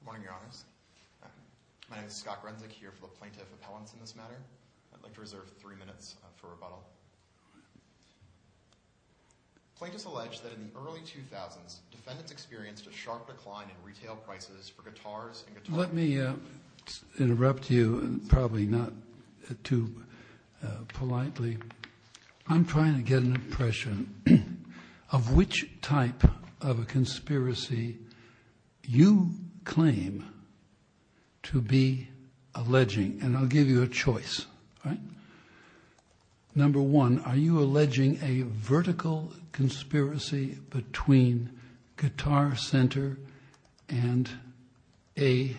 Good morning, Your Honors. My name is Scott Grenzick, here for the Plaintiff Appellants in this matter. I'd like to reserve three minutes for rebuttal. Plaintiffs allege that in the early 2000s, defendants experienced a sharp decline in retail prices for guitars and guitars. Let me interrupt you, probably not too politely. I'm trying to get an impression of which type of a conspiracy you claim to be alleging, and I'll give you a choice. Number one, are you alleging a vertical conspiracy between Guitar Center and a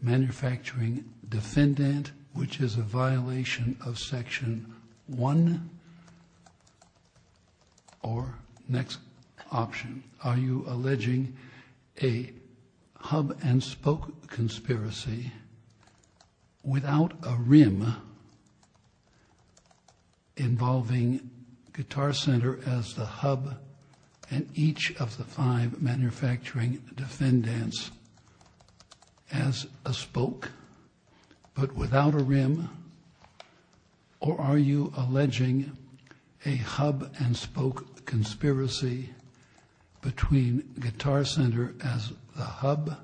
manufacturing defendant, which is a violation of Section 1? Or, next option, are you alleging a hub-and-spoke conspiracy without a rim involving Guitar Center as the hub and each of the five manufacturing defendants as a spoke, but without a rim? Or are you alleging a hub-and-spoke conspiracy between Guitar Center as the hub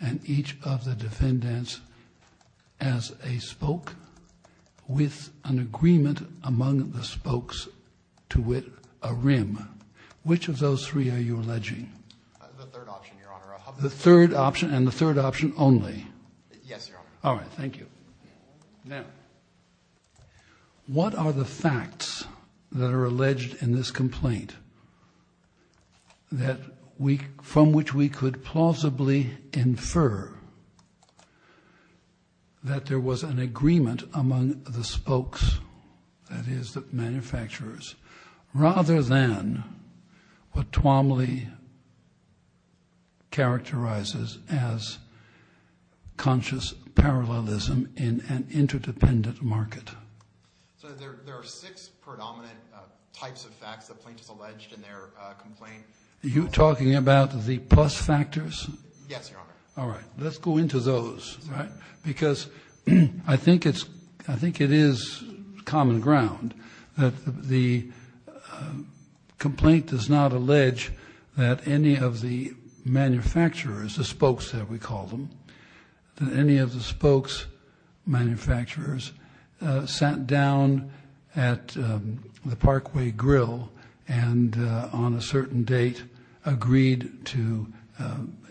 and each of the defendants as a spoke with an agreement among the spokes to wit a rim? Which of those three are you alleging? The third option, Your Honor. The third option, and the third option only? Yes, Your Honor. All right, thank you. Now, what are the facts that are alleged in this complaint from which we could plausibly infer that there was an agreement among the spokes, that is, the manufacturers, rather than what Twomley characterizes as conscious parallelism in an interdependent market? So, there are six predominant types of facts that plaintiffs alleged in their complaint. Are you talking about the plus factors? Yes, Your Honor. All right, let's go into those, because I think it is common ground that the complaint does not allege that any of the manufacturers, the spokes, as we call them, that any of the spokes manufacturers sat down at the Parkway Grill and, on a certain date, agreed to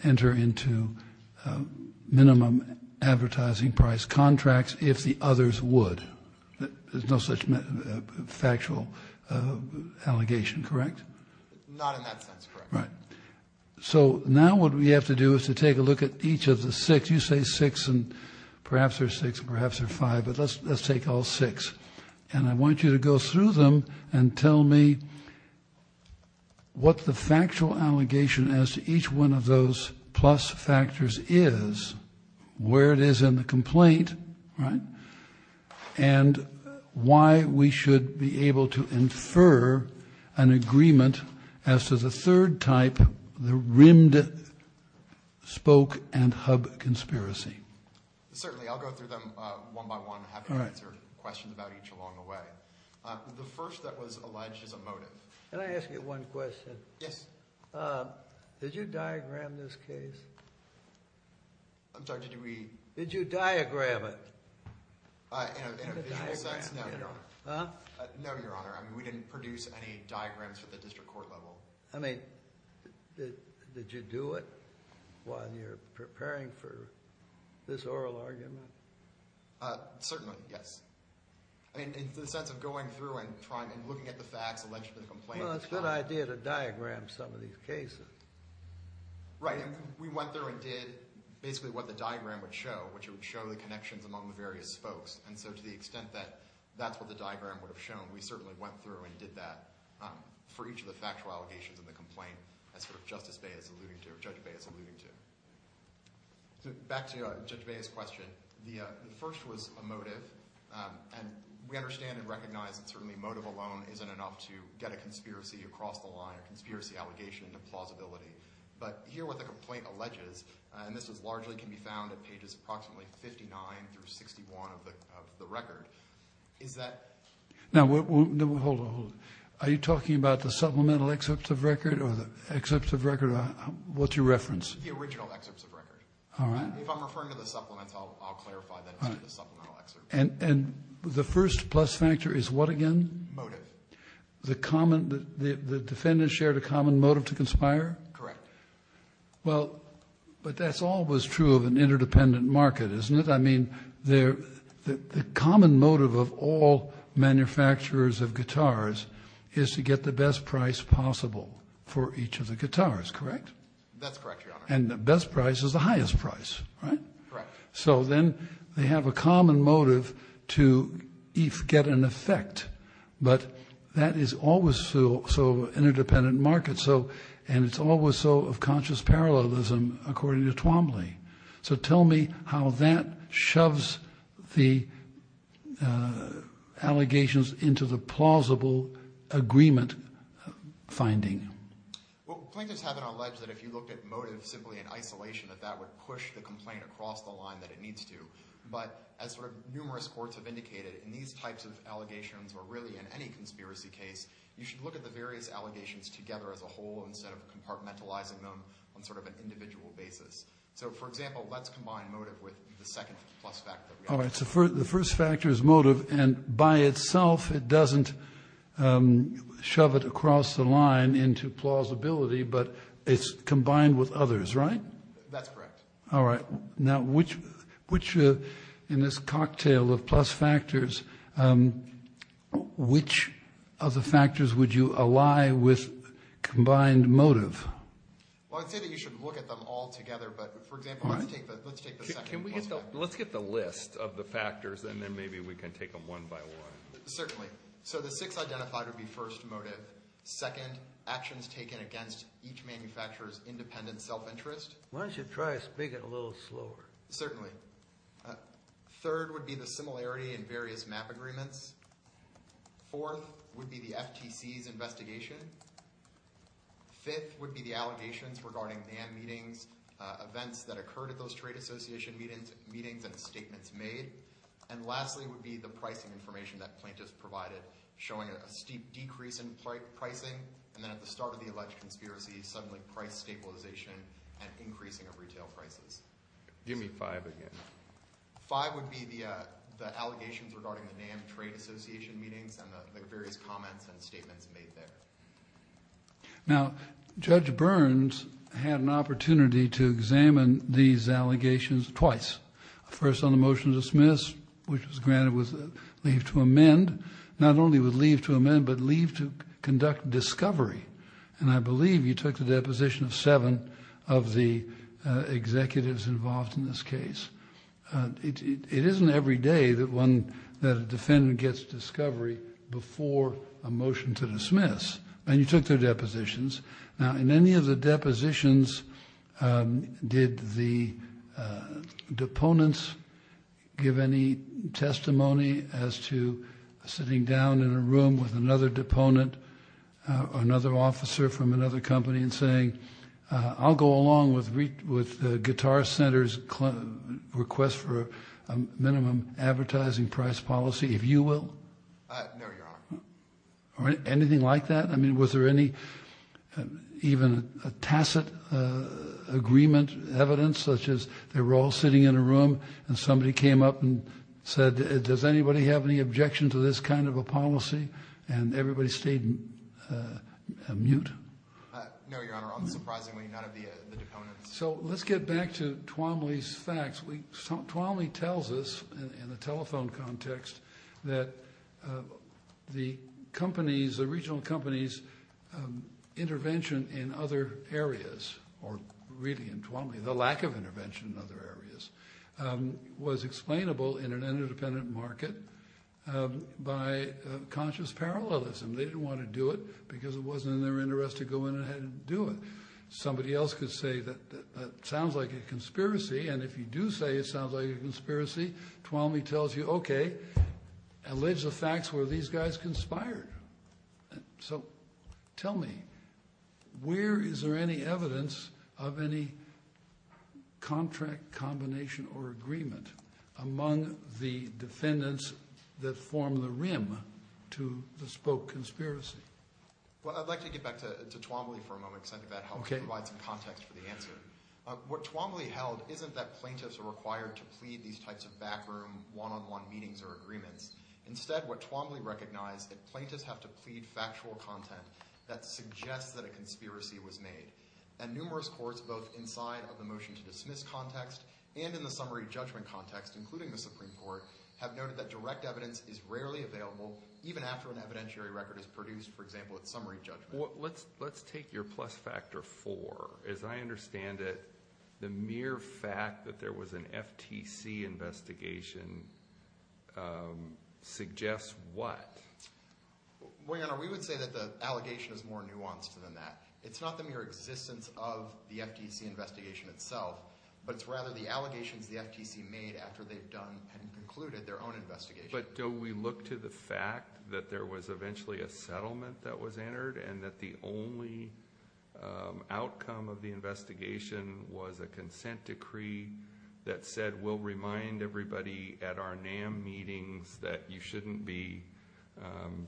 enter into minimum advertising price contracts if the others would. There's no such factual allegation, correct? Not in that sense, Your Honor. Right. So, now what we have to do is to take a look at each of the six. You say six, and perhaps they're six, perhaps they're five, but let's take all six. And I want you to go through them and tell me what the factual allegation as to each one of those plus factors is, where it is in the complaint, right, and why we should be able to infer an agreement as to the third type, the rimmed spoke and hub conspiracy. Certainly, I'll go through them one by one, having answered questions about each along the way. The first that was alleged is a motive. Can I ask you one question? Yes. Did you diagram this case? I'm sorry, did we? Did you diagram it? In a visual sense, no, Your Honor. Huh? No, Your Honor. I mean, we didn't produce any diagrams at the district court level. I mean, did you do it while you're preparing for this oral argument? Certainly, yes. I mean, in the sense of going through and looking at the facts alleged to the complaint. Well, it's a good idea to diagram some of these cases. Right. We went through and did basically what the diagram would show, which would show the connections among the various spokes. And so to the extent that that's what the diagram would have shown, we certainly went through and did that for each of the factual allegations in the complaint, as Justice Bey is alluding to, or Judge Bey is alluding to. Back to Judge Bey's question. The first was a motive. And we understand and recognize that certainly motive alone isn't enough to get a conspiracy across the line, a conspiracy allegation into plausibility. But here what the complaint alleges, and this largely can be found at pages approximately 59 through 61 of the record, is that... Now, hold on, hold on. Are you talking about the supplemental excerpts of record or the excerpts of record? What's your reference? The original excerpts of record. All right. If I'm referring to the supplements, I'll clarify that as a supplemental excerpt. And the first plus factor is what again? Motive. The defendant shared a common motive to conspire? Correct. Well, but that's always true of an interdependent market, isn't it? I mean, the common motive of all manufacturers of guitars is to get the best price possible for each of the guitars, correct? That's correct, Your Honor. And the best price is the highest price, right? Correct. So then they have a common motive to get an effect. But that is always true of an interdependent market, and it's always so of conscious parallelism according to Twombly. So tell me how that shoves the allegations into the plausible agreement finding. Well, plaintiffs have alleged that if you looked at motive simply in isolation, that that would push the complaint across the line that it needs to. But as sort of numerous courts have indicated, in these types of allegations or really in any conspiracy case, you should look at the various allegations together as a whole instead of compartmentalizing them on sort of an individual basis. So, for example, let's combine motive with the second plus factor. All right. So the first factor is motive, and by itself it doesn't shove it across the line into plausibility, but it's combined with others, right? That's correct. All right. Now, in this cocktail of plus factors, which of the factors would you ally with combined motive? Well, I'd say that you should look at them all together, but, for example, let's take the second plus factor. Let's get the list of the factors, and then maybe we can take them one by one. Certainly. So the six identified would be, first, motive. Second, actions taken against each manufacturer's independent self-interest. Why don't you try speaking a little slower? Certainly. Third would be the similarity in various MAP agreements. Fourth would be the FTC's investigation. Fifth would be the allegations regarding NAM meetings, events that occurred at those trade association meetings, and statements made. And lastly would be the pricing information that plaintiffs provided, showing a steep decrease in pricing, and then at the start of the alleged conspiracy, suddenly price stabilization and increasing of retail prices. Give me five again. Five would be the allegations regarding the NAM trade association meetings and the various comments and statements made there. Now, Judge Burns had an opportunity to examine these allegations twice. First on the motion to dismiss, which was granted with leave to amend. Not only with leave to amend, but leave to conduct discovery. And I believe you took the deposition of seven of the executives involved in this case. It isn't every day that a defendant gets discovery before a motion to dismiss. And you took their depositions. Now, in any of the depositions, did the deponents give any testimony as to sitting down in a room with another deponent or another officer from another company and saying, I'll go along with Guitar Center's request for a minimum advertising price policy, if you will? No, Your Honor. Or anything like that? I mean, was there any, even a tacit agreement, evidence, such as they were all sitting in a room and somebody came up and said, does anybody have any objection to this kind of a policy? And everybody stayed mute? No, Your Honor. Unsurprisingly, none of the deponents. So let's get back to Twomley's facts. Twomley tells us in a telephone context that the companies, the regional companies' intervention in other areas, or really in Twomley, the lack of intervention in other areas, was explainable in an interdependent market by conscious parallelism. They didn't want to do it because it wasn't in their interest to go in and do it. Somebody else could say that sounds like a conspiracy, and if you do say it sounds like a conspiracy, Twomley tells you, okay, allege the facts where these guys conspired. So tell me, where is there any evidence of any contract, combination, or agreement among the defendants that form the rim to the spoke conspiracy? Well, I'd like to get back to Twomley for a moment because I think that helps provide some context for the answer. What Twomley held isn't that plaintiffs are required to plead these types of backroom one-on-one meetings or agreements. Instead, what Twomley recognized is that plaintiffs have to plead factual content that suggests that a conspiracy was made. And numerous courts, both inside of the motion to dismiss context and in the summary judgment context, including the Supreme Court, have noted that direct evidence is rarely available even after an evidentiary record is produced, for example, at summary judgment. Let's take your plus factor four. As I understand it, the mere fact that there was an FTC investigation suggests what? Well, Your Honor, we would say that the allegation is more nuanced than that. It's not the mere existence of the FTC investigation itself, but it's rather the allegations the FTC made after they've done and concluded their own investigation. But don't we look to the fact that there was eventually a settlement that was entered and that the only outcome of the investigation was a consent decree that said, I will remind everybody at our NAM meetings that you shouldn't be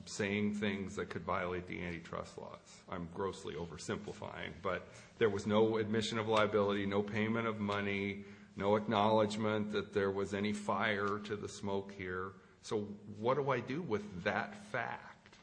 saying things that could violate the antitrust laws. I'm grossly oversimplifying. But there was no admission of liability, no payment of money, no acknowledgment that there was any fire to the smoke here. So what do I do with that fact?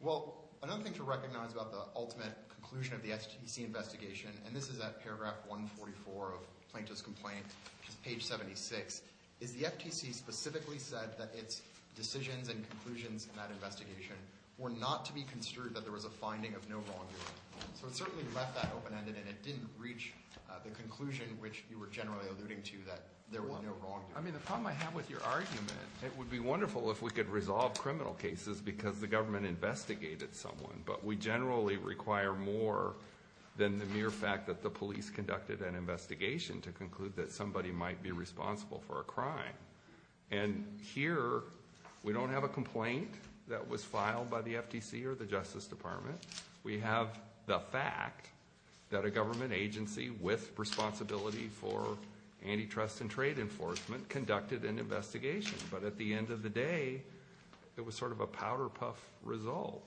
Well, another thing to recognize about the ultimate conclusion of the FTC investigation, and this is at paragraph 144 of Plaintiff's complaint, which is page 76, is the FTC specifically said that its decisions and conclusions in that investigation were not to be construed that there was a finding of no wrongdoing. So it certainly left that open-ended, and it didn't reach the conclusion which you were generally alluding to, that there was no wrongdoing. I mean, the problem I have with your argument, it would be wonderful if we could resolve criminal cases because the government investigated someone. But we generally require more than the mere fact that the police conducted an investigation to conclude that somebody might be responsible for a crime. And here, we don't have a complaint that was filed by the FTC or the Justice Department. We have the fact that a government agency with responsibility for antitrust and trade enforcement conducted an investigation. But at the end of the day, it was sort of a powder puff result.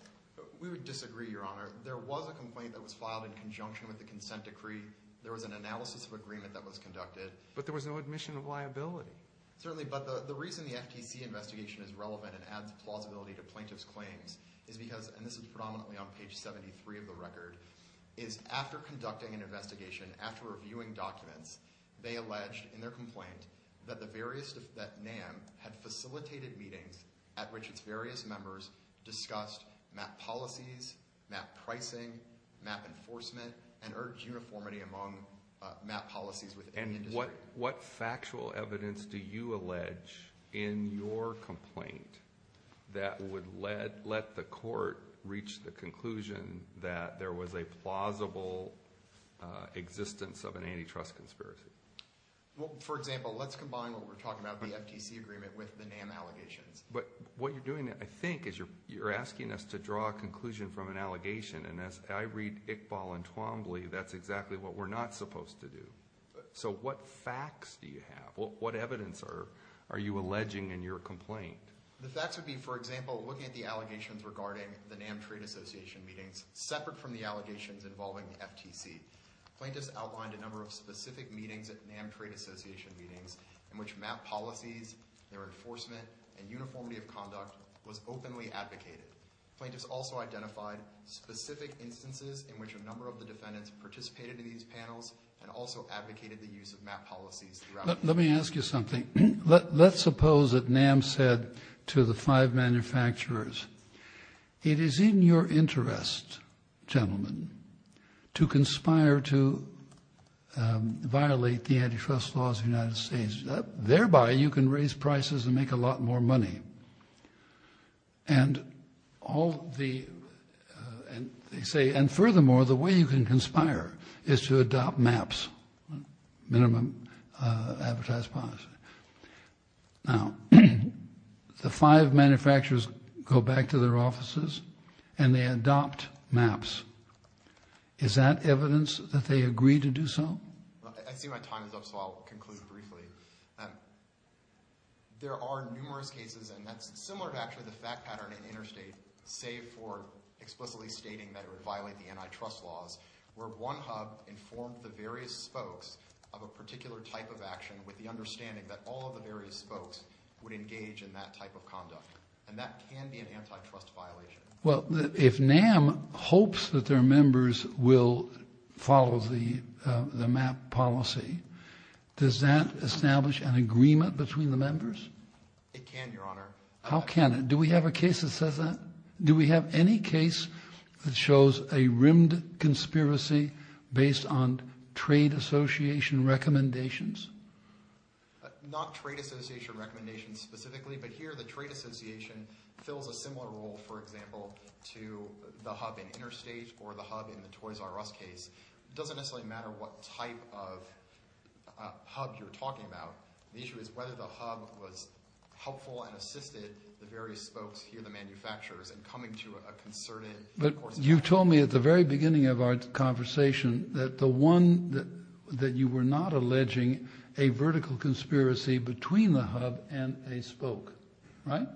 We would disagree, Your Honor. There was a complaint that was filed in conjunction with the consent decree. There was an analysis of agreement that was conducted. But there was no admission of liability. Certainly, but the reason the FTC investigation is relevant and adds plausibility to plaintiff's claims is because, and this is predominantly on page 73 of the record, is after conducting an investigation, after reviewing documents, they alleged in their complaint that NAM had facilitated meetings at which its various members discussed MAP policies, MAP pricing, MAP enforcement, and urged uniformity among MAP policies within the industry. What factual evidence do you allege in your complaint that would let the court reach the conclusion that there was a plausible existence of an antitrust conspiracy? Well, for example, let's combine what we're talking about, the FTC agreement, with the NAM allegations. But what you're doing, I think, is you're asking us to draw a conclusion from an allegation. And as I read Iqbal and Twombly, that's exactly what we're not supposed to do. So what facts do you have? What evidence are you alleging in your complaint? The facts would be, for example, looking at the allegations regarding the NAM Trade Association meetings separate from the allegations involving the FTC. Plaintiffs outlined a number of specific meetings at NAM Trade Association meetings in which MAP policies, their enforcement, and uniformity of conduct was openly advocated. Plaintiffs also identified specific instances in which a number of the defendants participated in these panels and also advocated the use of MAP policies. Let me ask you something. Let's suppose that NAM said to the five manufacturers, it is in your interest, gentlemen, to conspire to violate the antitrust laws of the United States. Thereby, you can raise prices and make a lot more money. And furthermore, the way you can conspire is to adopt MAPs, minimum advertised policy. Now, the five manufacturers go back to their offices and they adopt MAPs. Is that evidence that they agreed to do so? I see my time is up, so I'll conclude briefly. There are numerous cases, and that's similar to actually the fact pattern in interstate, save for explicitly stating that it would violate the antitrust laws, where one hub informed the various spokes of a particular type of action with the understanding that all of the various spokes would engage in that type of conduct. And that can be an antitrust violation. Well, if NAM hopes that their members will follow the MAP policy, does that establish an agreement between the members? It can, Your Honor. How can it? Do we have a case that says that? Do we have any case that shows a rimmed conspiracy based on trade association recommendations? Not trade association recommendations specifically, but here the trade association fills a similar role, for example, to the hub in interstate or the hub in the Toys R Us case. It doesn't necessarily matter what type of hub you're talking about. The issue is whether the hub was helpful and assisted the various spokes here, the manufacturers, in coming to a concerted course of action. You told me at the very beginning of our conversation that the one that you were not alleging a vertical conspiracy between the hub and a spoke, right?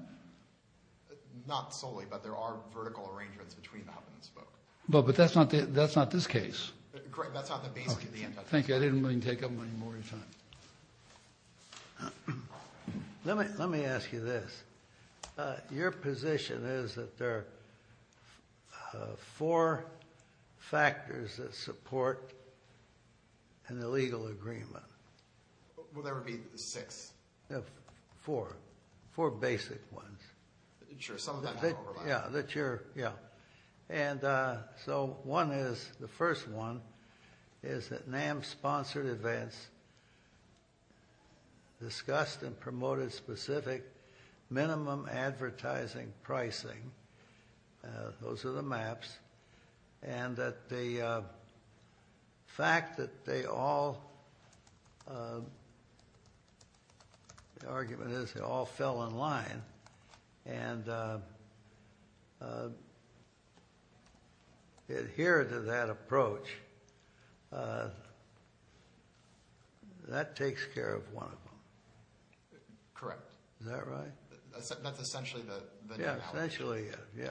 Not solely, but there are vertical arrangements between the hub and the spoke. But that's not this case. That's not the base case. Thank you. I didn't mean to take up any more of your time. Let me ask you this. Your position is that there are four factors that support an illegal agreement. Will there be six? Four. Four basic ones. Sure. Some of them overlap. Yeah. One is, the first one, is that NAM sponsored events, discussed and promoted specific minimum advertising pricing. Those are the maps. And that the fact that they all, the argument is they all fell in line and adhere to that approach, that takes care of one of them. Correct. Is that right? That's essentially the new allocation. Yeah, essentially, yeah.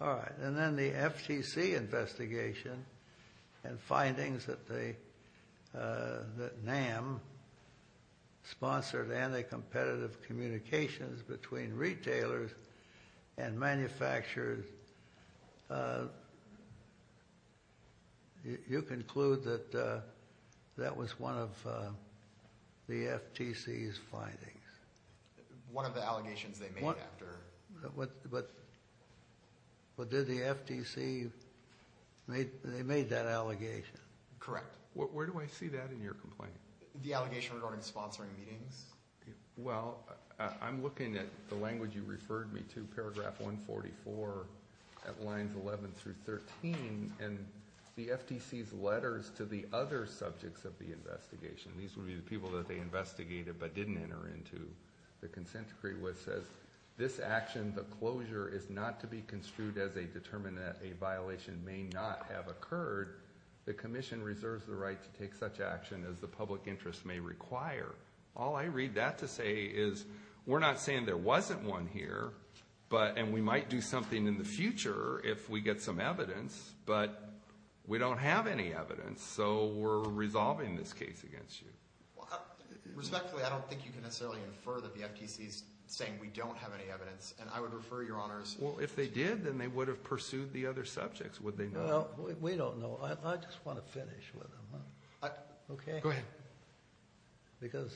All right. And then the FTC investigation and findings that NAM sponsored anti-competitive communications between retailers and manufacturers, you conclude that that was one of the FTC's findings. One of the allegations they made after. But did the FTC, they made that allegation? Correct. Where do I see that in your complaint? The allegation regarding sponsoring meetings. Well, I'm looking at the language you referred me to, paragraph 144, at lines 11 through 13, and the FTC's letters to the other subjects of the investigation, these would be the people that they investigated but didn't enter into the consent decree, which says this action, the closure, is not to be construed as a determined that a violation may not have occurred. The commission reserves the right to take such action as the public interest may require. All I read that to say is we're not saying there wasn't one here, and we might do something in the future if we get some evidence, but we don't have any evidence, so we're resolving this case against you. Respectfully, I don't think you can necessarily infer that the FTC is saying we don't have any evidence, and I would refer your honors to you. Well, if they did, then they would have pursued the other subjects, would they not? We don't know. I just want to finish with them. Okay? Go ahead. Because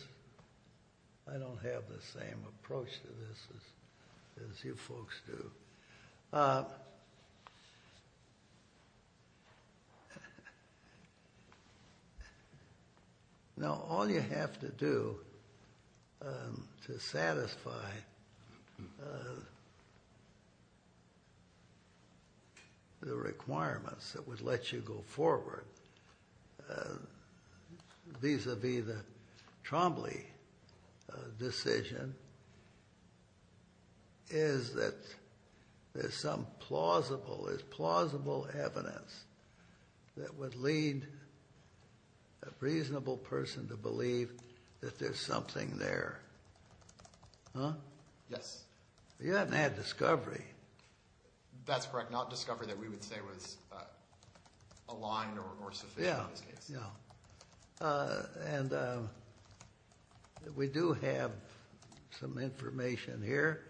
I don't have the same approach to this as you folks do. Okay. Now, all you have to do to satisfy the requirements that would let you go forward vis-à-vis the Trombley decision is that there's some plausible evidence that would lead a reasonable person to believe that there's something there. Huh? Yes. You haven't had discovery. That's correct. Not discovery that we would say was aligned or sufficient in this case. And we do have some information here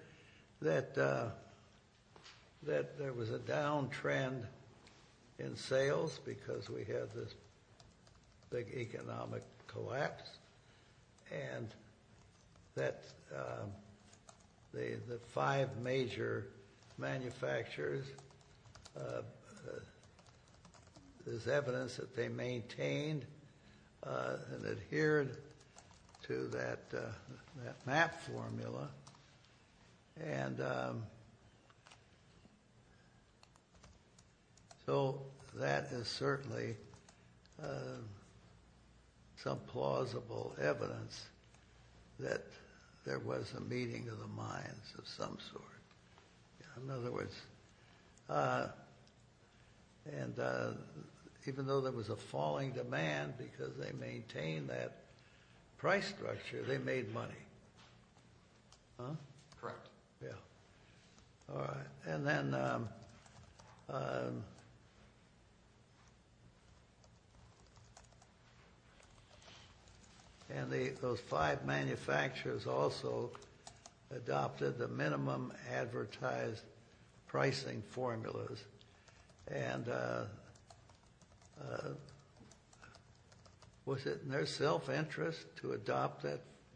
that there was a downtrend in sales because we had this big economic collapse, and that the five major manufacturers, there's evidence that they maintained and adhered to that map formula, and so that is certainly some plausible evidence that there was a meeting of the minds of some sort. In other words, even though there was a falling demand because they maintained that price structure, they made money. Huh? Correct. Yeah. All right. And then those five manufacturers also adopted the minimum advertised pricing formulas. And was it in their self-interest to adopt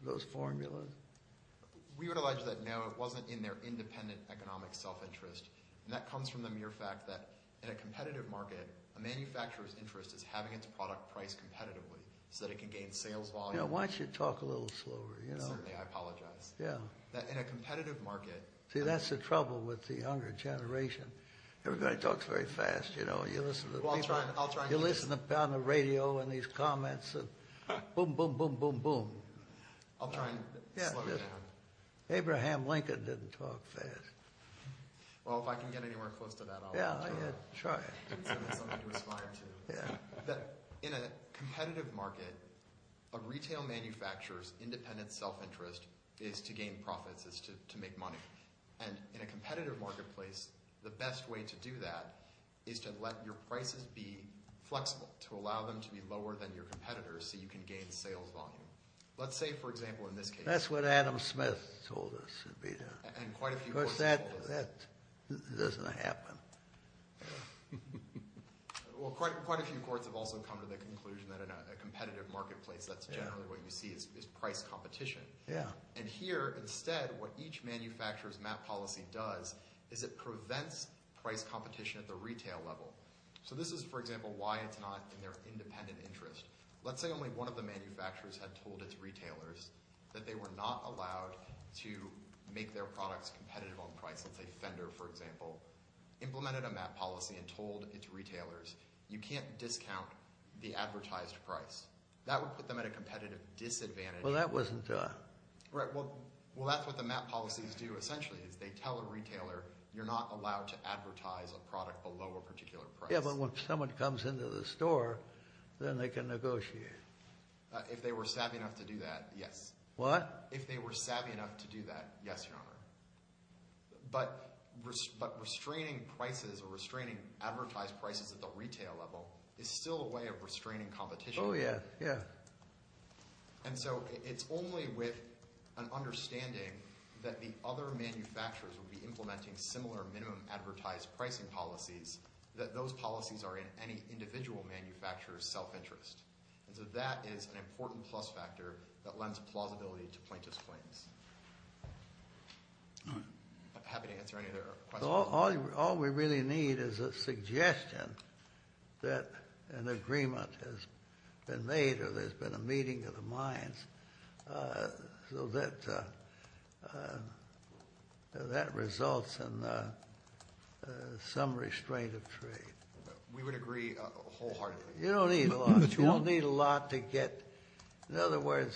those formulas? We would allege that, no, it wasn't in their independent economic self-interest, and that comes from the mere fact that in a competitive market, a manufacturer's interest is having its product priced competitively so that it can gain sales volume. Why don't you talk a little slower? Certainly. I apologize. Yeah. In a competitive market— See, that's the trouble with the younger generation. Everybody talks very fast, you know. You listen to a pound of radio and these comments of boom, boom, boom, boom, boom. I'll try and slow it down. Abraham Lincoln didn't talk fast. Well, if I can get anywhere close to that, I'll try. Yeah, try. That's something to aspire to. Yeah. In a competitive market, a retail manufacturer's independent self-interest is to gain profits, is to make money. And in a competitive marketplace, the best way to do that is to let your prices be flexible, to allow them to be lower than your competitors so you can gain sales volume. Let's say, for example, in this case— That's what Adam Smith told us. And quite a few courts have told us. Of course, that doesn't happen. Well, quite a few courts have also come to the conclusion that in a competitive marketplace, that's generally what you see is price competition. Yeah. And here, instead, what each manufacturer's map policy does is it prevents price competition at the retail level. So this is, for example, why it's not in their independent interest. Let's say only one of the manufacturers had told its retailers that they were not allowed to make their products competitive on price. Let's say Fender, for example, implemented a map policy and told its retailers, you can't discount the advertised price. That would put them at a competitive disadvantage. Well, that wasn't— Right. Well, that's what the map policies do, essentially, is they tell a retailer, you're not allowed to advertise a product below a particular price. Yeah, but when someone comes into the store, then they can negotiate. If they were savvy enough to do that, yes. What? If they were savvy enough to do that, yes, Your Honor. But restraining prices or restraining advertised prices at the retail level is still a way of restraining competition. Oh, yeah, yeah. And so it's only with an understanding that the other manufacturers would be implementing similar minimum advertised pricing policies that those policies are in any individual manufacturer's self-interest. And so that is an important plus factor that lends plausibility to plaintiff's claims. I'm happy to answer any other questions. All we really need is a suggestion that an agreement has been made or there's been a meeting of the minds so that that results in some restraint of trade. We would agree wholeheartedly. You don't need a lot. You don't need a lot to get— What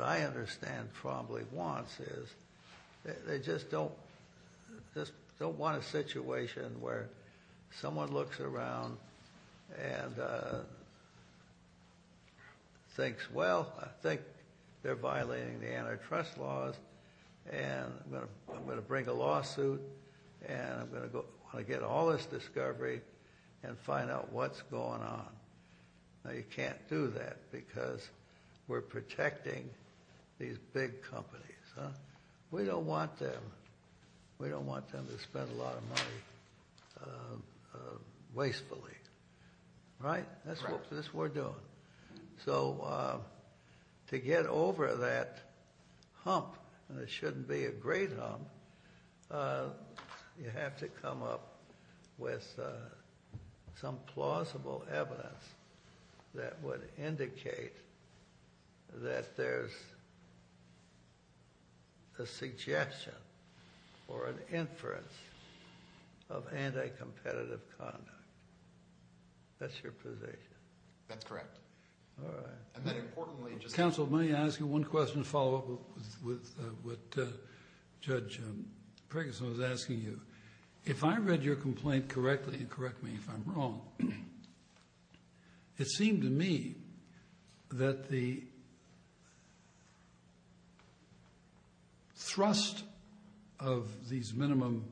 I understand Trombley wants is they just don't want a situation where someone looks around and thinks, well, I think they're violating the antitrust laws, and I'm going to bring a lawsuit, and I'm going to get all this discovery and find out what's going on. You can't do that because we're protecting these big companies. We don't want them to spend a lot of money wastefully. Right? That's what we're doing. So to get over that hump, and it shouldn't be a great hump, you have to come up with some plausible evidence that would indicate that there's a suggestion or an inference of anti-competitive conduct. That's your position. That's correct. All right. And then importantly— Counsel, may I ask you one question to follow up with what Judge Preggison was asking you? If I read your complaint correctly, and correct me if I'm wrong, it seemed to me that the thrust of these minimum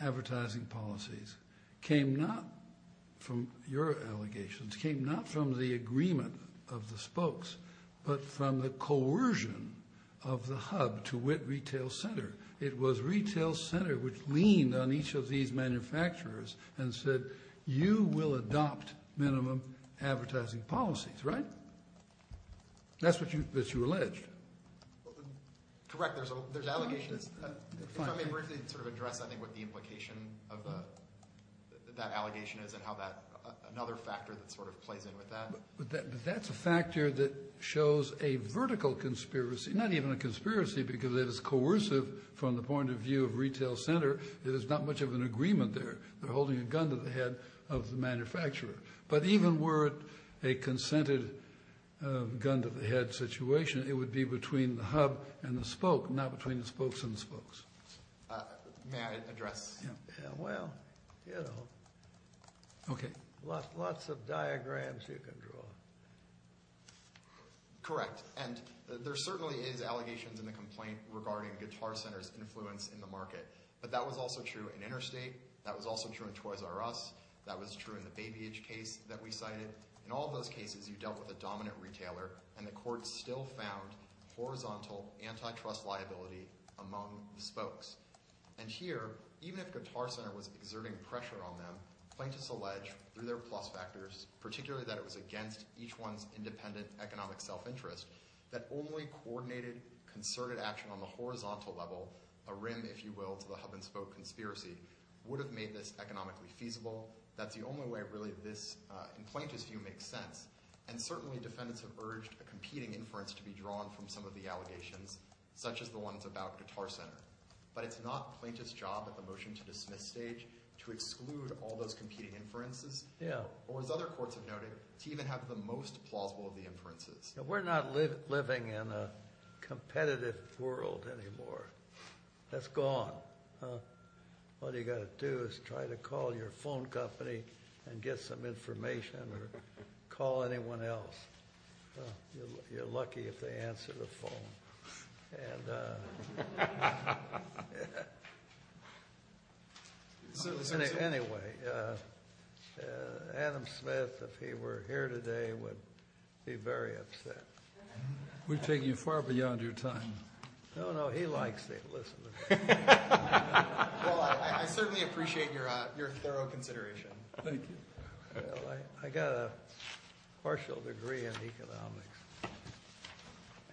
advertising policies came not from your allegations, came not from the agreement of the spokes, but from the coercion of the hub to wit retail center. It was retail center which leaned on each of these manufacturers and said, you will adopt minimum advertising policies, right? That's what you alleged. Correct. There's allegations. If I may briefly sort of address, I think, what the implication of that allegation is and how that—another factor that sort of plays in with that. But that's a factor that shows a vertical conspiracy. Not even a conspiracy because it is coercive from the point of view of retail center. It is not much of an agreement there. They're holding a gun to the head of the manufacturer. But even were it a consented gun to the head situation, it would be between the hub and the spoke, not between the spokes and the spokes. May I address? Well, you know. Okay. Lots of diagrams you can draw. Correct. And there certainly is allegations in the complaint regarding Guitar Center's influence in the market. But that was also true in Interstate. That was also true in Toys R Us. That was true in the Baby H case that we cited. In all those cases, you dealt with a dominant retailer, and the court still found horizontal antitrust liability among the spokes. And here, even if Guitar Center was exerting pressure on them, plaintiffs allege through their plus factors, particularly that it was against each one's independent economic self-interest, that only coordinated, concerted action on the horizontal level, a rim, if you will, to the hub and spoke conspiracy, would have made this economically feasible. That's the only way really this, in plaintiff's view, makes sense. And certainly defendants have urged a competing inference to be drawn from some of the allegations, such as the ones about Guitar Center. But it's not plaintiff's job at the motion to dismiss stage to exclude all those competing inferences. Or, as other courts have noted, to even have the most plausible of the inferences. We're not living in a competitive world anymore. That's gone. All you've got to do is try to call your phone company and get some information, or call anyone else. You're lucky if they answer the phone. And anyway, Adam Smith, if he were here today, would be very upset. We've taken you far beyond your time. No, no, he likes it. Well, I certainly appreciate your thorough consideration. Thank you. I got a partial degree in economics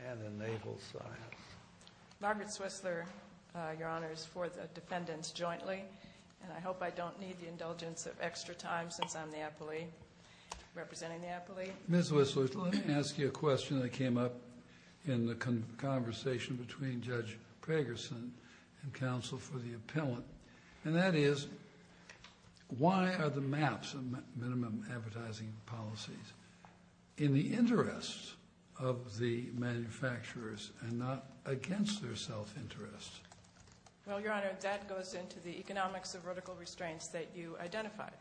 and in naval science. Margaret Swissler, Your Honors, for the defendants jointly. And I hope I don't need the indulgence of extra time since I'm the appellee, representing the appellee. Ms. Swissler, let me ask you a question that came up in the conversation between Judge Pragerson and counsel for the appellant. And that is, why are the maps of minimum advertising policies in the interest of the manufacturers and not against their self-interest? Well, Your Honor, that goes into the economics of vertical restraints that you identified.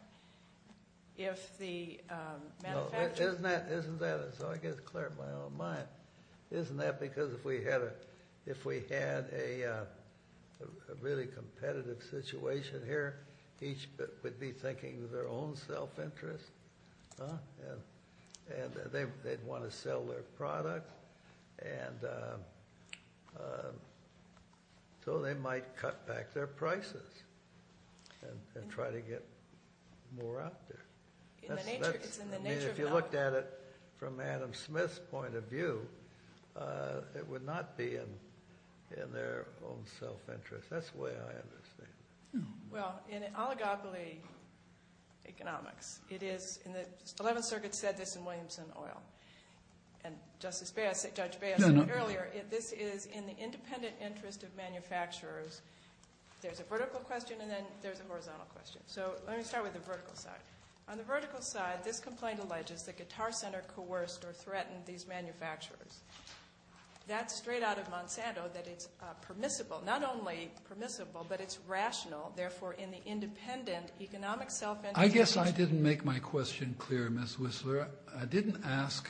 If the manufacturers— No, isn't that—so I get it clear in my own mind. Isn't that because if we had a really competitive situation here, each would be thinking of their own self-interest, and they'd want to sell their product, and so they might cut back their prices and try to get more out there. I mean, if you looked at it from Adam Smith's point of view, it would not be in their own self-interest. That's the way I understand it. Well, in oligopoly economics, it is—the Eleventh Circuit said this in Williamson Oil. And Judge Baio said it earlier. This is in the independent interest of manufacturers. There's a vertical question, and then there's a horizontal question. So let me start with the vertical side. On the vertical side, this complaint alleges that Guitar Center coerced or threatened these manufacturers. That's straight out of Monsanto, that it's permissible. Not only permissible, but it's rational. Therefore, in the independent economic self-interest— I guess I didn't make my question clear, Ms. Whistler. I didn't ask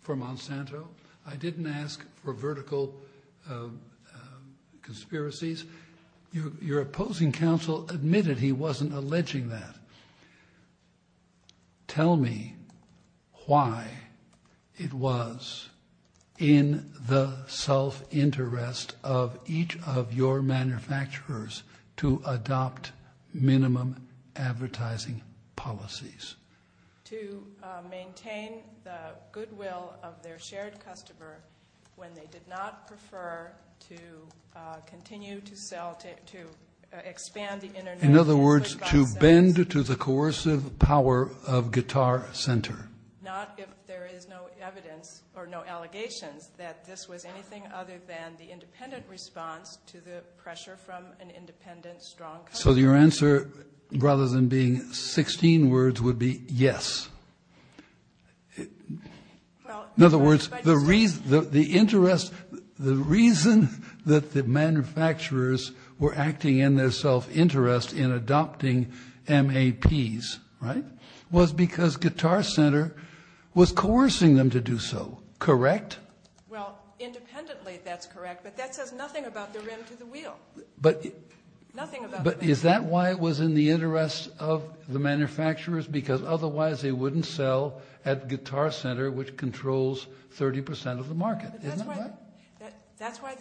for Monsanto. I didn't ask for vertical conspiracies. Your opposing counsel admitted he wasn't alleging that. Tell me why it was in the self-interest of each of your manufacturers to adopt minimum advertising policies. To maintain the goodwill of their shared customer when they did not prefer to continue to sell, to expand the internet. In other words, to bend to the coercive power of Guitar Center. Not if there is no evidence or no allegations that this was anything other than the independent response to the pressure from an independent, strong company. So your answer, rather than being 16 words, would be yes. In other words, the reason that the manufacturers were acting in their self-interest in adopting MAPs, right? Was because Guitar Center was coercing them to do so, correct? Well, independently, that's correct. But that says nothing about the rim to the wheel. But is that why it was in the interest of the manufacturers? Because otherwise they wouldn't sell at Guitar Center, which controls 30% of the market. Isn't that right? That's why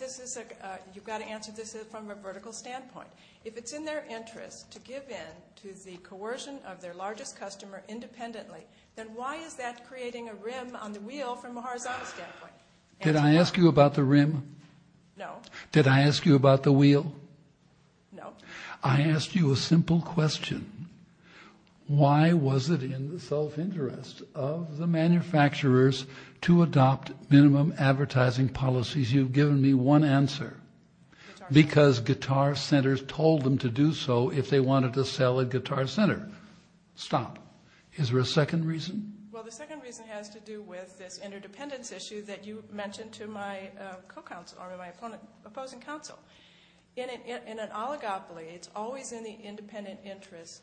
you've got to answer this from a vertical standpoint. If it's in their interest to give in to the coercion of their largest customer independently, then why is that creating a rim on the wheel from a horizontal standpoint? Did I ask you about the rim? No. Did I ask you about the wheel? No. I asked you a simple question. Why was it in the self-interest of the manufacturers to adopt minimum advertising policies? You've given me one answer. Because Guitar Center told them to do so if they wanted to sell at Guitar Center. Stop. Is there a second reason? Well, the second reason has to do with this interdependence issue that you mentioned to my opposing counsel. In an oligopoly, it's always in the interdependent interest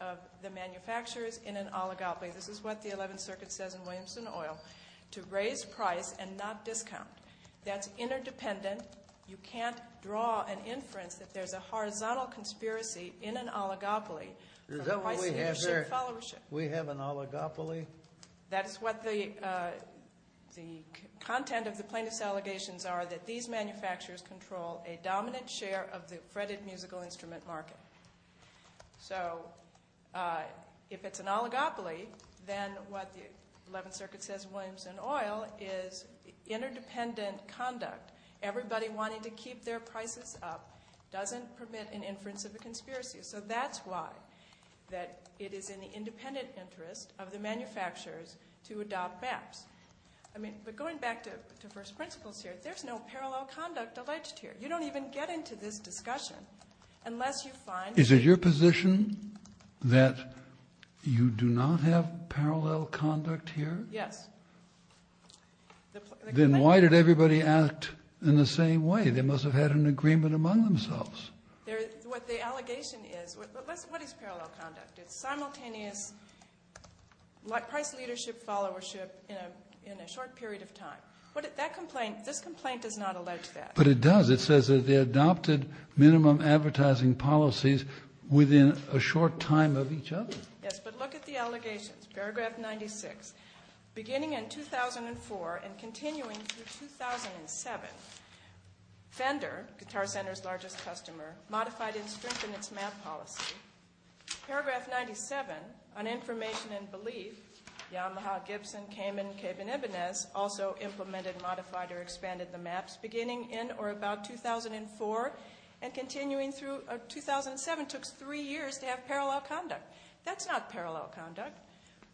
of the manufacturers in an oligopoly. This is what the 11th Circuit says in Williamson Oil, to raise price and not discount. That's interdependent. You can't draw an inference that there's a horizontal conspiracy in an oligopoly. Is that what we have there? We have an oligopoly? That is what the content of the plaintiff's allegations are, that these manufacturers control a dominant share of the fretted musical instrument market. So if it's an oligopoly, then what the 11th Circuit says in Williamson Oil is interdependent conduct. Everybody wanting to keep their prices up doesn't permit an inference of a conspiracy. So that's why it is in the independent interest of the manufacturers to adopt maps. But going back to first principles here, there's no parallel conduct alleged here. You don't even get into this discussion unless you find— Is it your position that you do not have parallel conduct here? Yes. Then why did everybody act in the same way? They must have had an agreement among themselves. What the allegation is—what is parallel conduct? It's simultaneous price leadership, followership in a short period of time. This complaint does not allege that. But it does. It says that they adopted minimum advertising policies within a short time of each other. Yes, but look at the allegations. Paragraph 96, beginning in 2004 and continuing through 2007, Fender, guitar center's largest customer, modified and strengthened its map policy. Paragraph 97, on information and belief, Yamaha, Gibson, Cayman, Cabe, and Ibanez also implemented, modified, or expanded the maps beginning in or about 2004 and continuing through 2007 took three years to have parallel conduct. That's not parallel conduct.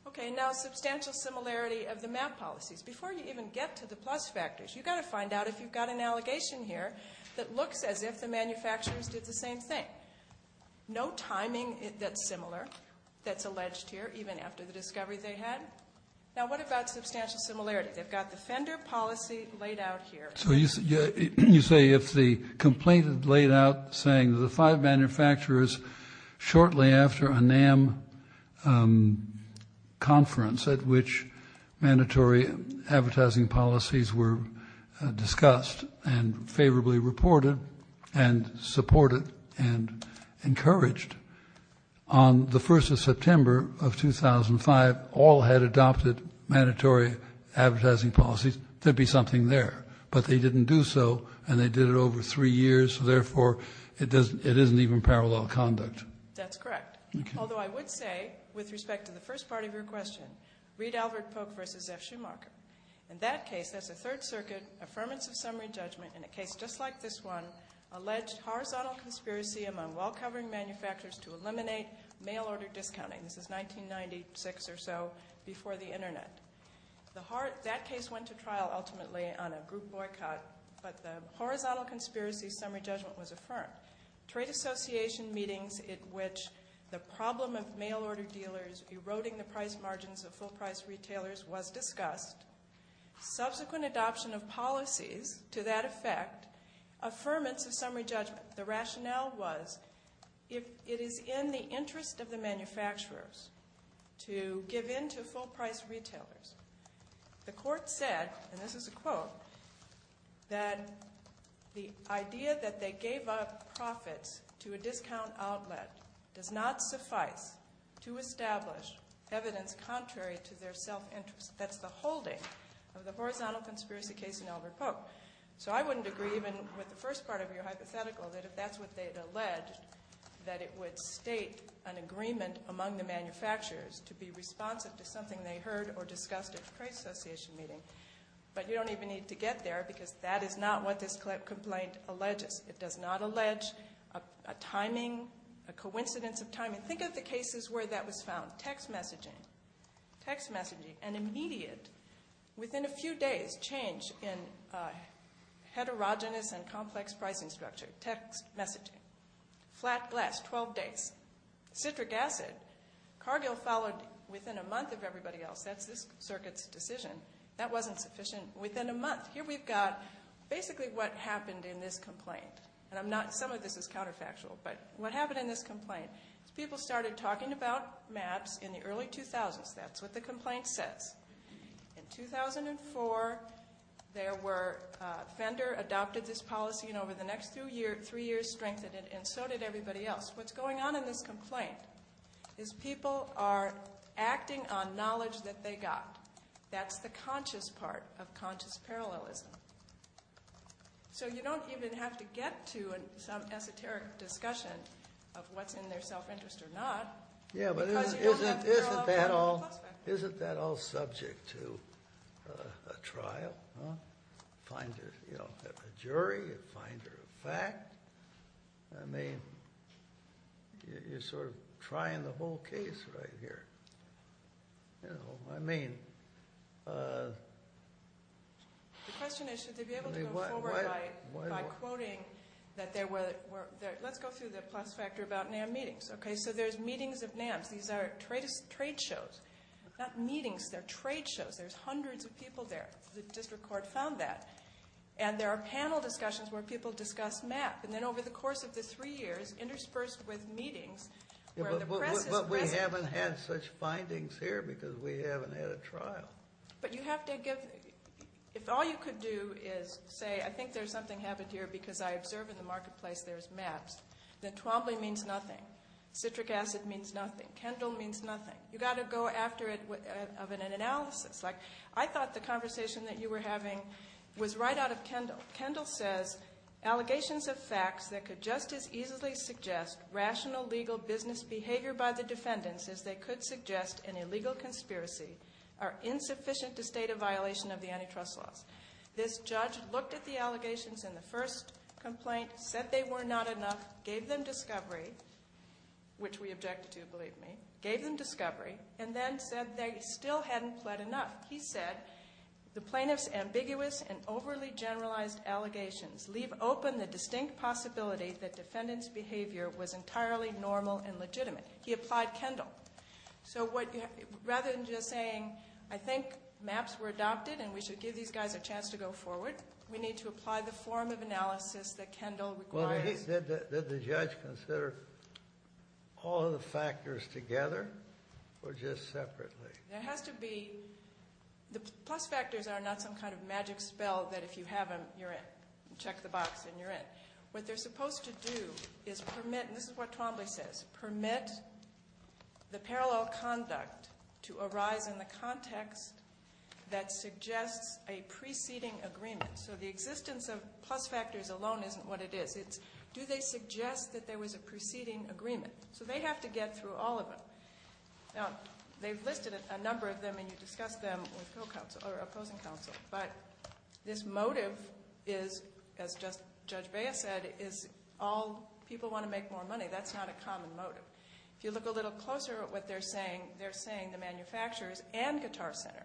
Okay, now substantial similarity of the map policies. Before you even get to the plus factors, you've got to find out if you've got an allegation here that looks as if the manufacturers did the same thing. No timing that's similar, that's alleged here, even after the discovery they had. Now what about substantial similarity? They've got the Fender policy laid out here. So you say if the complaint is laid out saying the five manufacturers shortly after a NAM conference at which mandatory advertising policies were discussed and favorably reported and supported and encouraged on the 1st of September of 2005 all had adopted mandatory advertising policies, there'd be something there, but they didn't do so and they did it over three years, so therefore it isn't even parallel conduct. That's correct, although I would say with respect to the first part of your question, Reed-Albert-Polk v. F. Schumacher, in that case, that's a Third Circuit Affirmative Summary Judgment in a case just like this one, alleged horizontal conspiracy among well-covering manufacturers to eliminate mail-order discounting. This is 1996 or so before the Internet. That case went to trial ultimately on a group boycott, but the horizontal conspiracy summary judgment was affirmed. Trade association meetings at which the problem of mail-order dealers eroding the price margins of full-price retailers was discussed, subsequent adoption of policies to that effect, affirmance of summary judgment. The rationale was if it is in the interest of the manufacturers to give in to full-price retailers, the court said, and this is a quote, that the idea that they gave up profits to a discount outlet does not suffice to establish evidence contrary to their self-interest. That's the holding of the horizontal conspiracy case in Albert-Polk. So I wouldn't agree even with the first part of your hypothetical, that if that's what they had alleged, that it would state an agreement among the manufacturers to be responsive to something they heard or discussed at a trade association meeting. But you don't even need to get there because that is not what this complaint alleges. It does not allege a timing, a coincidence of timing. Think of the cases where that was found. Text messaging. Text messaging. An immediate, within a few days, change in heterogeneous and complex pricing structure. Text messaging. Flat glass, 12 days. Citric acid. Cargill followed within a month of everybody else. That's this circuit's decision. That wasn't sufficient. Within a month. Here we've got basically what happened in this complaint. Some of this is counterfactual, but what happened in this complaint is people started talking about maps in the early 2000s. That's what the complaint says. In 2004, Fender adopted this policy and over the next three years strengthened it, and so did everybody else. What's going on in this complaint is people are acting on knowledge that they got. That's the conscious part of conscious parallelism. So you don't even have to get to some esoteric discussion of what's in their self-interest or not. Yeah, but isn't that all subject to a trial? Find a jury, find a fact. I mean, you're sort of trying the whole case right here. You know, I mean. The question is, should they be able to go forward by quoting that there were, let's go through the plus factor about NAM meetings. Okay, so there's meetings of NAMs. These are trade shows, not meetings. They're trade shows. There's hundreds of people there. The district court found that. And there are panel discussions where people discuss maps. And then over the course of the three years, interspersed with meetings, where the press is present. But we haven't had such findings here because we haven't had a trial. But you have to give, if all you could do is say, I think there's something happened here because I observe in the marketplace there's maps, then Twombly means nothing. Citric acid means nothing. Kendall means nothing. You've got to go after it of an analysis. Like, I thought the conversation that you were having was right out of Kendall. Kendall says, allegations of facts that could just as easily suggest rational, legal business behavior by the defendants as they could suggest an illegal conspiracy are insufficient to state a violation of the antitrust laws. This judge looked at the allegations in the first complaint, said they were not enough, gave them discovery, which we objected to, believe me, gave them discovery, and then said they still hadn't pled enough. He said, the plaintiff's ambiguous and overly generalized allegations leave open the distinct possibility that defendant's behavior was entirely normal and legitimate. He applied Kendall. So rather than just saying, I think maps were adopted and we should give these guys a chance to go forward, we need to apply the form of analysis that Kendall requires. Did the judge consider all of the factors together or just separately? It has to be, the plus factors are not some kind of magic spell that if you have them, you're in. Check the box and you're in. What they're supposed to do is permit, and this is what Twombly says, permit the parallel conduct to arise in the context that suggests a preceding agreement. So the existence of plus factors alone isn't what it is. It's, do they suggest that there was a preceding agreement? So they have to get through all of them. Now, they've listed a number of them and you discussed them with opposing counsel, but this motive is, as Judge Baez said, all people want to make more money. That's not a common motive. If you look a little closer at what they're saying, they're saying the manufacturers and Guitar Center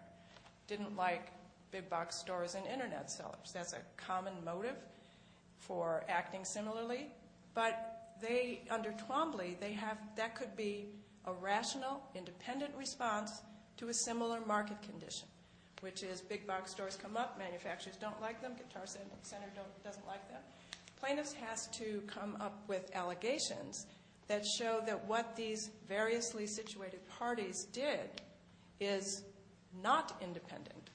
didn't like big box stores and Internet sellers. That's a common motive for acting similarly. But they, under Twombly, they have, that could be a rational, independent response to a similar market condition, which is big box stores come up, manufacturers don't like them, Guitar Center doesn't like them. Plaintiffs has to come up with allegations that show that what these variously situated parties did is not independent,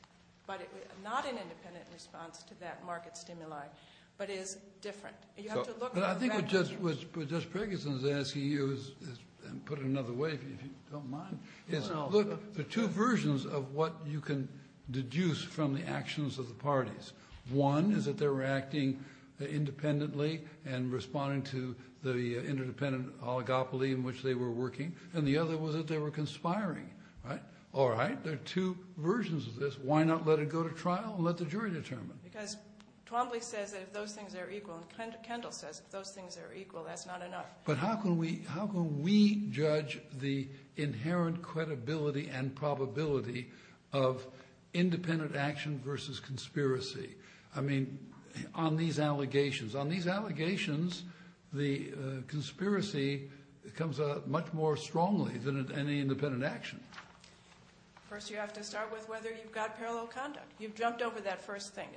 but not an independent response to that market stimuli, but is different. But I think what Judge Preggison is asking you is, and put it another way if you don't mind, is look, there are two versions of what you can deduce from the actions of the parties. One is that they were acting independently and responding to the interdependent oligopoly in which they were working, and the other was that they were conspiring, right? All right, there are two versions of this. Why not let it go to trial and let the jury determine? Because Twombly says that if those things are equal, and Kendall says if those things are equal, that's not enough. But how can we judge the inherent credibility and probability of independent action versus conspiracy? I mean, on these allegations. On these allegations, the conspiracy comes out much more strongly than any independent action. First, you have to start with whether you've got parallel conduct. You've jumped over that first thing,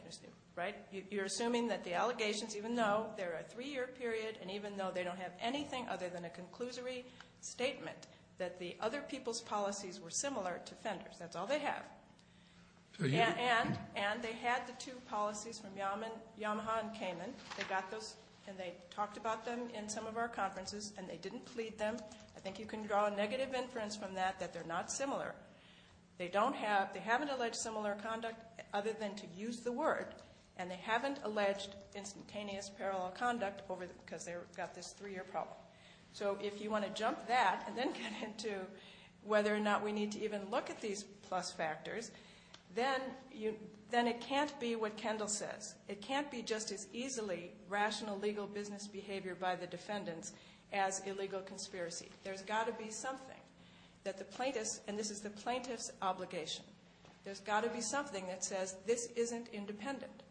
right? You're assuming that the allegations, even though they're a three-year period, and even though they don't have anything other than a conclusory statement, that the other people's policies were similar to Fender's. That's all they have. And they had the two policies from Yamaha and Kamin. They got those, and they talked about them in some of our conferences, and they didn't plead them. I think you can draw a negative inference from that that they're not similar. They haven't alleged similar conduct other than to use the word, and they haven't alleged instantaneous parallel conduct because they've got this three-year problem. So if you want to jump that and then get into whether or not we need to even look at these plus factors, then it can't be what Kendall says. It can't be just as easily rational legal business behavior by the defendants as illegal conspiracy. There's got to be something that the plaintiffs, and this is the plaintiff's obligation. There's got to be something that says this isn't independent.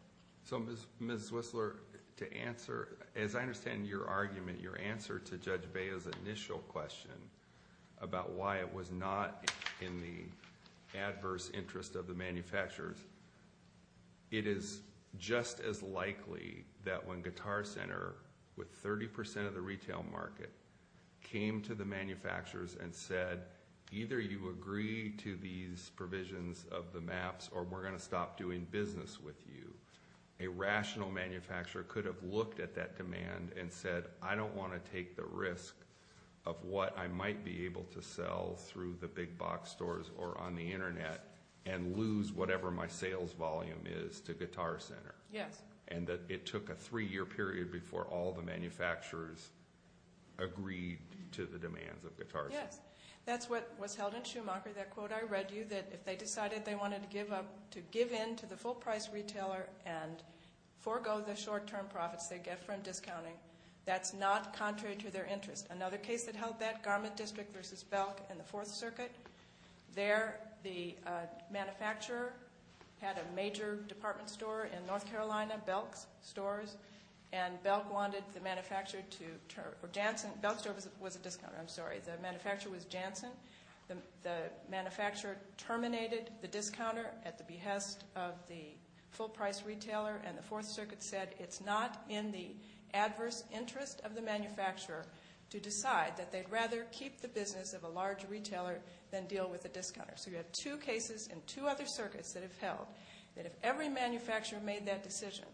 So, Ms. Whistler, to answer, as I understand your argument, your answer to Judge Baio's initial question about why it was not in the adverse interest of the manufacturers, it is just as likely that when Guitar Center, with 30% of the retail market, came to the manufacturers and said, either you agree to these provisions of the maps or we're going to stop doing business with you, a rational manufacturer could have looked at that demand and said, I don't want to take the risk of what I might be able to sell through the big box stores or on the Internet and lose whatever my sales volume is to Guitar Center. Yes. And that it took a three-year period before all the manufacturers agreed to the demands of Guitar Center. Yes. That's what was held in Schumacher, that quote I read to you, that if they decided they wanted to give in to the full-price retailer and forego the short-term profits they get from discounting, that's not contrary to their interest. Another case that held that, Garment District v. Belk and the Fourth Circuit. There, the manufacturer had a major department store in North Carolina, Belk's stores, and Belk wanted the manufacturer to turn – or Janssen – Belk's store was a discounter, I'm sorry. The manufacturer was Janssen. The manufacturer terminated the discounter at the behest of the full-price retailer, and the Fourth Circuit said it's not in the adverse interest of the manufacturer to decide that they'd rather keep the business of a large retailer than deal with a discounter. So you have two cases in two other circuits that have held that if every manufacturer made that decision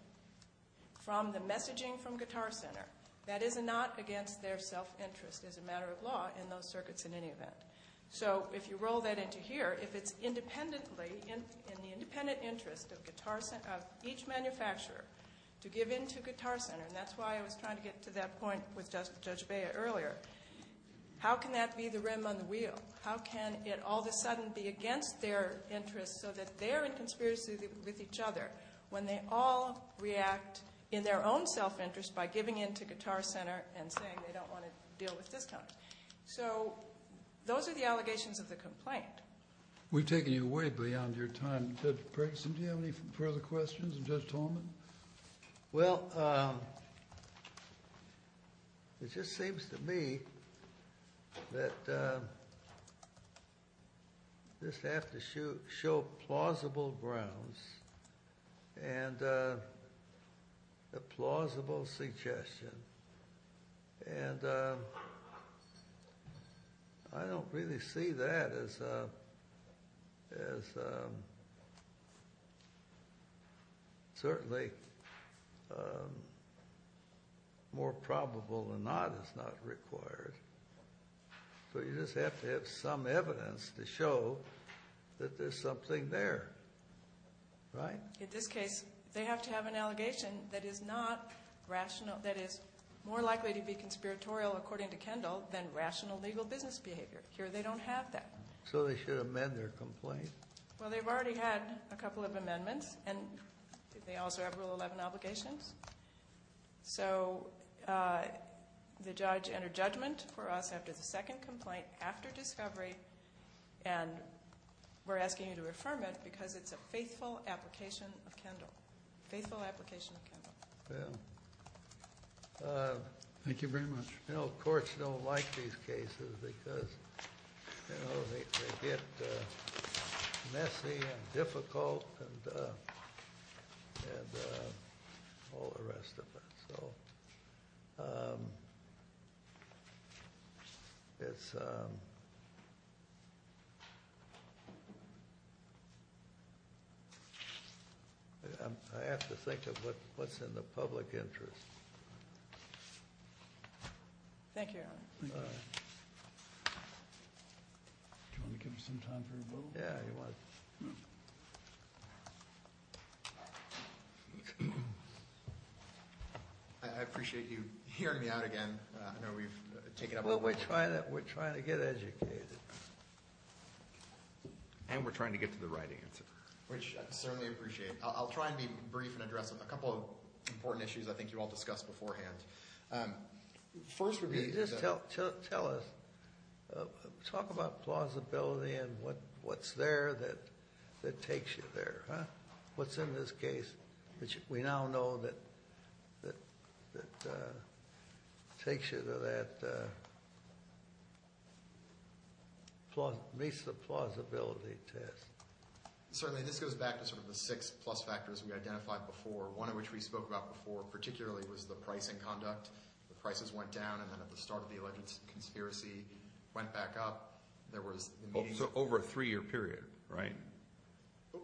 from the messaging from Guitar Center, that is not against their self-interest as a matter of law in those circuits in any event. So if you roll that into here, if it's independently, in the independent interest of each manufacturer to give in to Guitar Center, and that's why I was trying to get to that point with Judge Beyer earlier, how can that be the rim on the wheel? How can it all of a sudden be against their interest so that they're in conspiracy with each other when they all react in their own self-interest by giving in to Guitar Center and saying they don't want to deal with discounts? So those are the allegations of the complaint. We've taken you way beyond your time. Judge Briggs, did you have any further questions of Judge Tolman? Well, it just seems to me that this has to show plausible grounds and a plausible suggestion. And I don't really see that as certainly more probable than not is not required. So you just have to have some evidence to show that there's something there, right? In this case, they have to have an allegation that is more likely to be conspiratorial, according to Kendall, than rational legal business behavior. Here they don't have that. So they should amend their complaint? Well, they've already had a couple of amendments, and they also have Rule 11 obligations. So the judge entered judgment for us after the second complaint, after discovery, and we're asking you to affirm it because it's a faithful application of Kendall. Faithful application of Kendall. Thank you very much. You know, courts don't like these cases because they get messy and difficult and all the rest of it. So I have to think of what's in the public interest. Thank you, Your Honor. Do you want to give us some time for a vote? Yeah. I appreciate you hearing me out again. I know we've taken up a lot of time. Well, we're trying to get educated. And we're trying to get to the right answer. Which I certainly appreciate. I'll try and be brief and address a couple of important issues I think you all discussed beforehand. Just tell us, talk about plausibility and what's there that takes you there, huh? What's in this case, which we now know that takes you to that, meets the plausibility test. Certainly, this goes back to sort of the six plus factors we identified before. One of which we spoke about before particularly was the pricing conduct. The prices went down and then at the start of the alleged conspiracy went back up. So over a three-year period, right?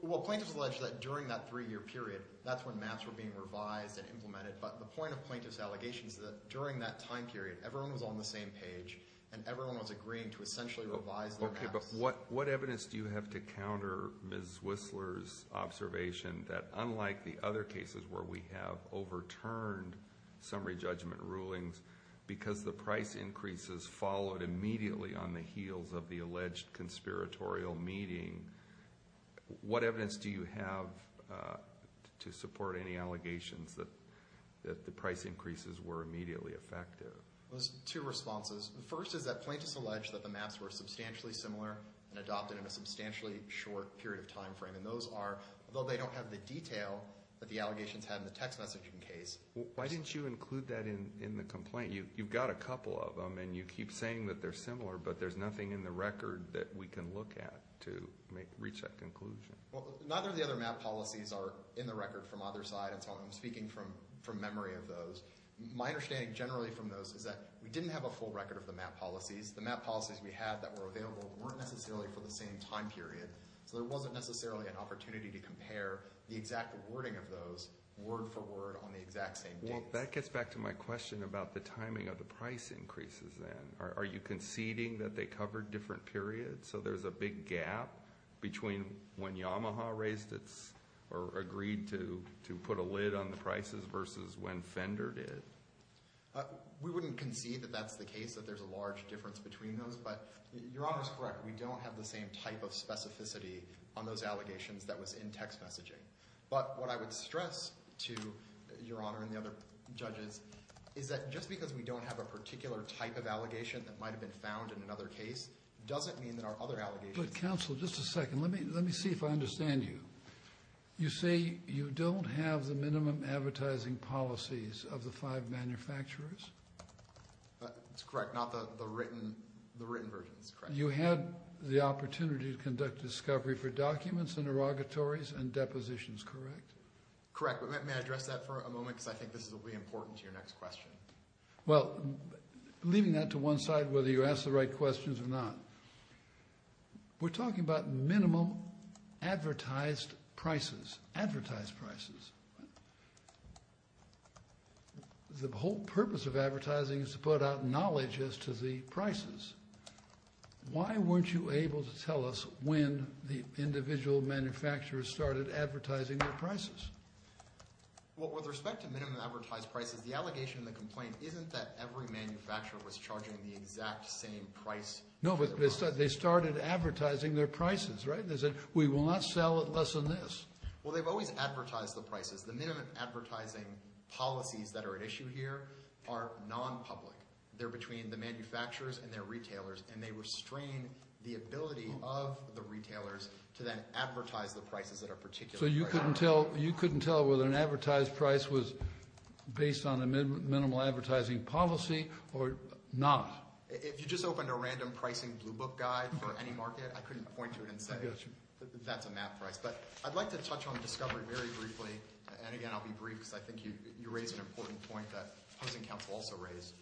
Well, plaintiffs alleged that during that three-year period, that's when maps were being revised and implemented. But the point of plaintiff's allegations is that during that time period, everyone was on the same page and everyone was agreeing to essentially revise their maps. Okay, but what evidence do you have to counter Ms. Whistler's observation that unlike the other cases where we have overturned summary judgment rulings because the price increases followed immediately on the heels of the alleged conspiratorial meeting, what evidence do you have to support any allegations that the price increases were immediately effective? There's two responses. The first is that plaintiffs alleged that the maps were substantially similar and adopted in a substantially short period of time frame. And those are, although they don't have the detail that the allegations had in the text messaging case. Why didn't you include that in the complaint? You've got a couple of them and you keep saying that they're similar, but there's nothing in the record that we can look at to reach that conclusion. Well, neither of the other map policies are in the record from either side, and so I'm speaking from memory of those. My understanding generally from those is that we didn't have a full record of the map policies. The map policies we had that were available weren't necessarily for the same time period, so there wasn't necessarily an opportunity to compare the exact wording of those word for word on the exact same date. Well, that gets back to my question about the timing of the price increases then. Are you conceding that they covered different periods, so there's a big gap between when Yamaha raised its or agreed to put a lid on the prices versus when Fender did? We wouldn't concede that that's the case, that there's a large difference between those, but Your Honor's correct. We don't have the same type of specificity on those allegations that was in text messaging. But what I would stress to Your Honor and the other judges is that just because we don't have a particular type of allegation that might have been found in another case doesn't mean that our other allegations— But counsel, just a second. Let me see if I understand you. You say you don't have the minimum advertising policies of the five manufacturers? That's correct, not the written versions. You had the opportunity to conduct discovery for documents and derogatories and depositions, correct? Correct, but may I address that for a moment because I think this will be important to your next question. Well, leaving that to one side, whether you asked the right questions or not, we're talking about minimum advertised prices, advertised prices. The whole purpose of advertising is to put out knowledge as to the prices. Why weren't you able to tell us when the individual manufacturers started advertising their prices? Well, with respect to minimum advertised prices, the allegation in the complaint isn't that every manufacturer was charging the exact same price. No, but they started advertising their prices, right? They said, we will not sell it less than this. Well, they've always advertised the prices. The minimum advertising policies that are at issue here are non-public. They're between the manufacturers and their retailers, and they restrain the ability of the retailers to then advertise the prices that are particular. So you couldn't tell whether an advertised price was based on a minimal advertising policy or not? If you just opened a random pricing blue book guide for any market, I couldn't point to it and say that's a map price. But I'd like to touch on discovery very briefly. And again, I'll be brief because I think you raised an important point that opposing counsel also raised.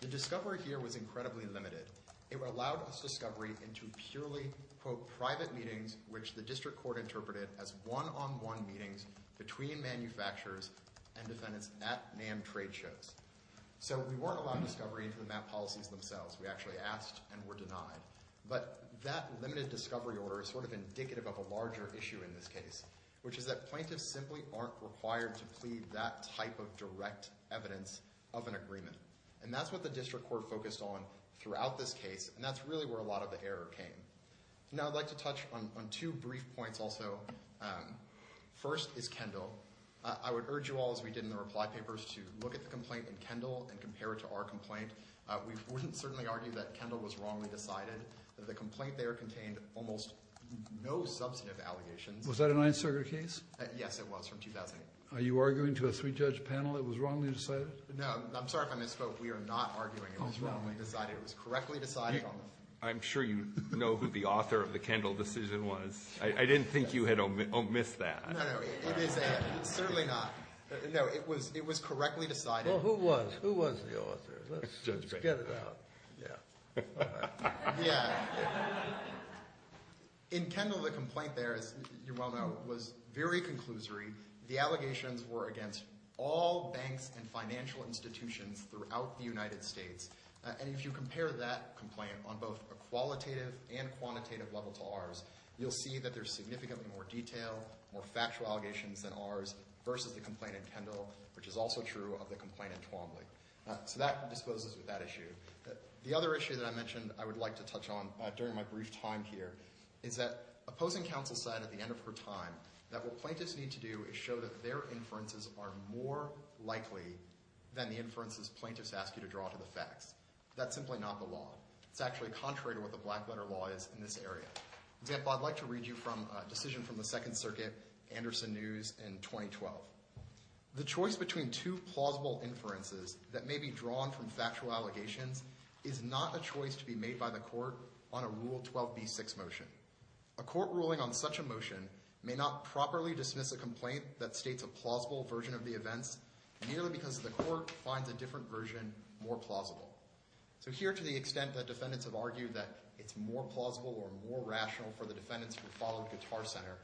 The discovery here was incredibly limited. It allowed us discovery into purely, quote, private meetings, which the district court interpreted as one-on-one meetings between manufacturers and defendants at NAM trade shows. So we weren't allowed discovery into the map policies themselves. We actually asked and were denied. But that limited discovery order is sort of indicative of a larger issue in this case, which is that plaintiffs simply aren't required to plead that type of direct evidence of an agreement. And that's what the district court focused on throughout this case. And that's really where a lot of the error came. Now, I'd like to touch on two brief points also. First is Kendall. I would urge you all, as we did in the reply papers, to look at the complaint in Kendall and compare it to our complaint. We wouldn't certainly argue that Kendall was wrongly decided. The complaint there contained almost no substantive allegations. Was that a Ninth Circuit case? Yes, it was, from 2008. Are you arguing to a three-judge panel it was wrongly decided? No, I'm sorry if I misspoke. We are not arguing it was wrongly decided. It was correctly decided. I'm sure you know who the author of the Kendall decision was. I didn't think you had omissed that. No, no, it is certainly not. No, it was correctly decided. Well, who was the author? Let's get it out. In Kendall, the complaint there, as you well know, was very conclusory. The allegations were against all banks and financial institutions throughout the United States. And if you compare that complaint on both a qualitative and quantitative level to ours, you'll see that there's significantly more detail, more factual allegations than ours, versus the complaint in Kendall, which is also true of the complaint in Twombly. So that disposes of that issue. The other issue that I mentioned I would like to touch on during my brief time here is that opposing counsel said at the end of her time that what plaintiffs need to do is show that their inferences are more likely than the inferences plaintiffs ask you to draw to the facts. That's simply not the law. It's actually contrary to what the Blackwater law is in this area. For example, I'd like to read you a decision from the Second Circuit, Anderson News, in 2012. The choice between two plausible inferences that may be drawn from factual allegations is not a choice to be made by the court on a Rule 12b-6 motion. A court ruling on such a motion may not properly dismiss a complaint that states a plausible version of the events, merely because the court finds a different version more plausible. So here, to the extent that defendants have argued that it's more plausible or more rational for the defendants to follow Guitar Center,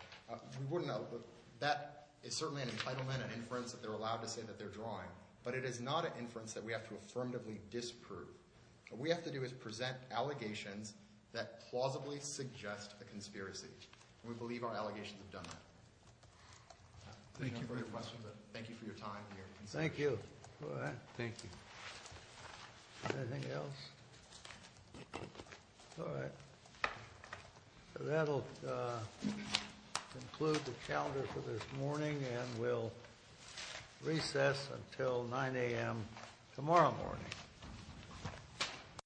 we wouldn't know, but that is certainly an entitlement, an inference that they're allowed to say that they're drawing. But it is not an inference that we have to affirmatively disprove. What we have to do is present allegations that plausibly suggest a conspiracy, and we believe our allegations have done that. Thank you for your questions, and thank you for your time here. Thank you. Thank you. Anything else? All right. That will conclude the calendar for this morning, and we'll recess until 9 a.m. tomorrow morning.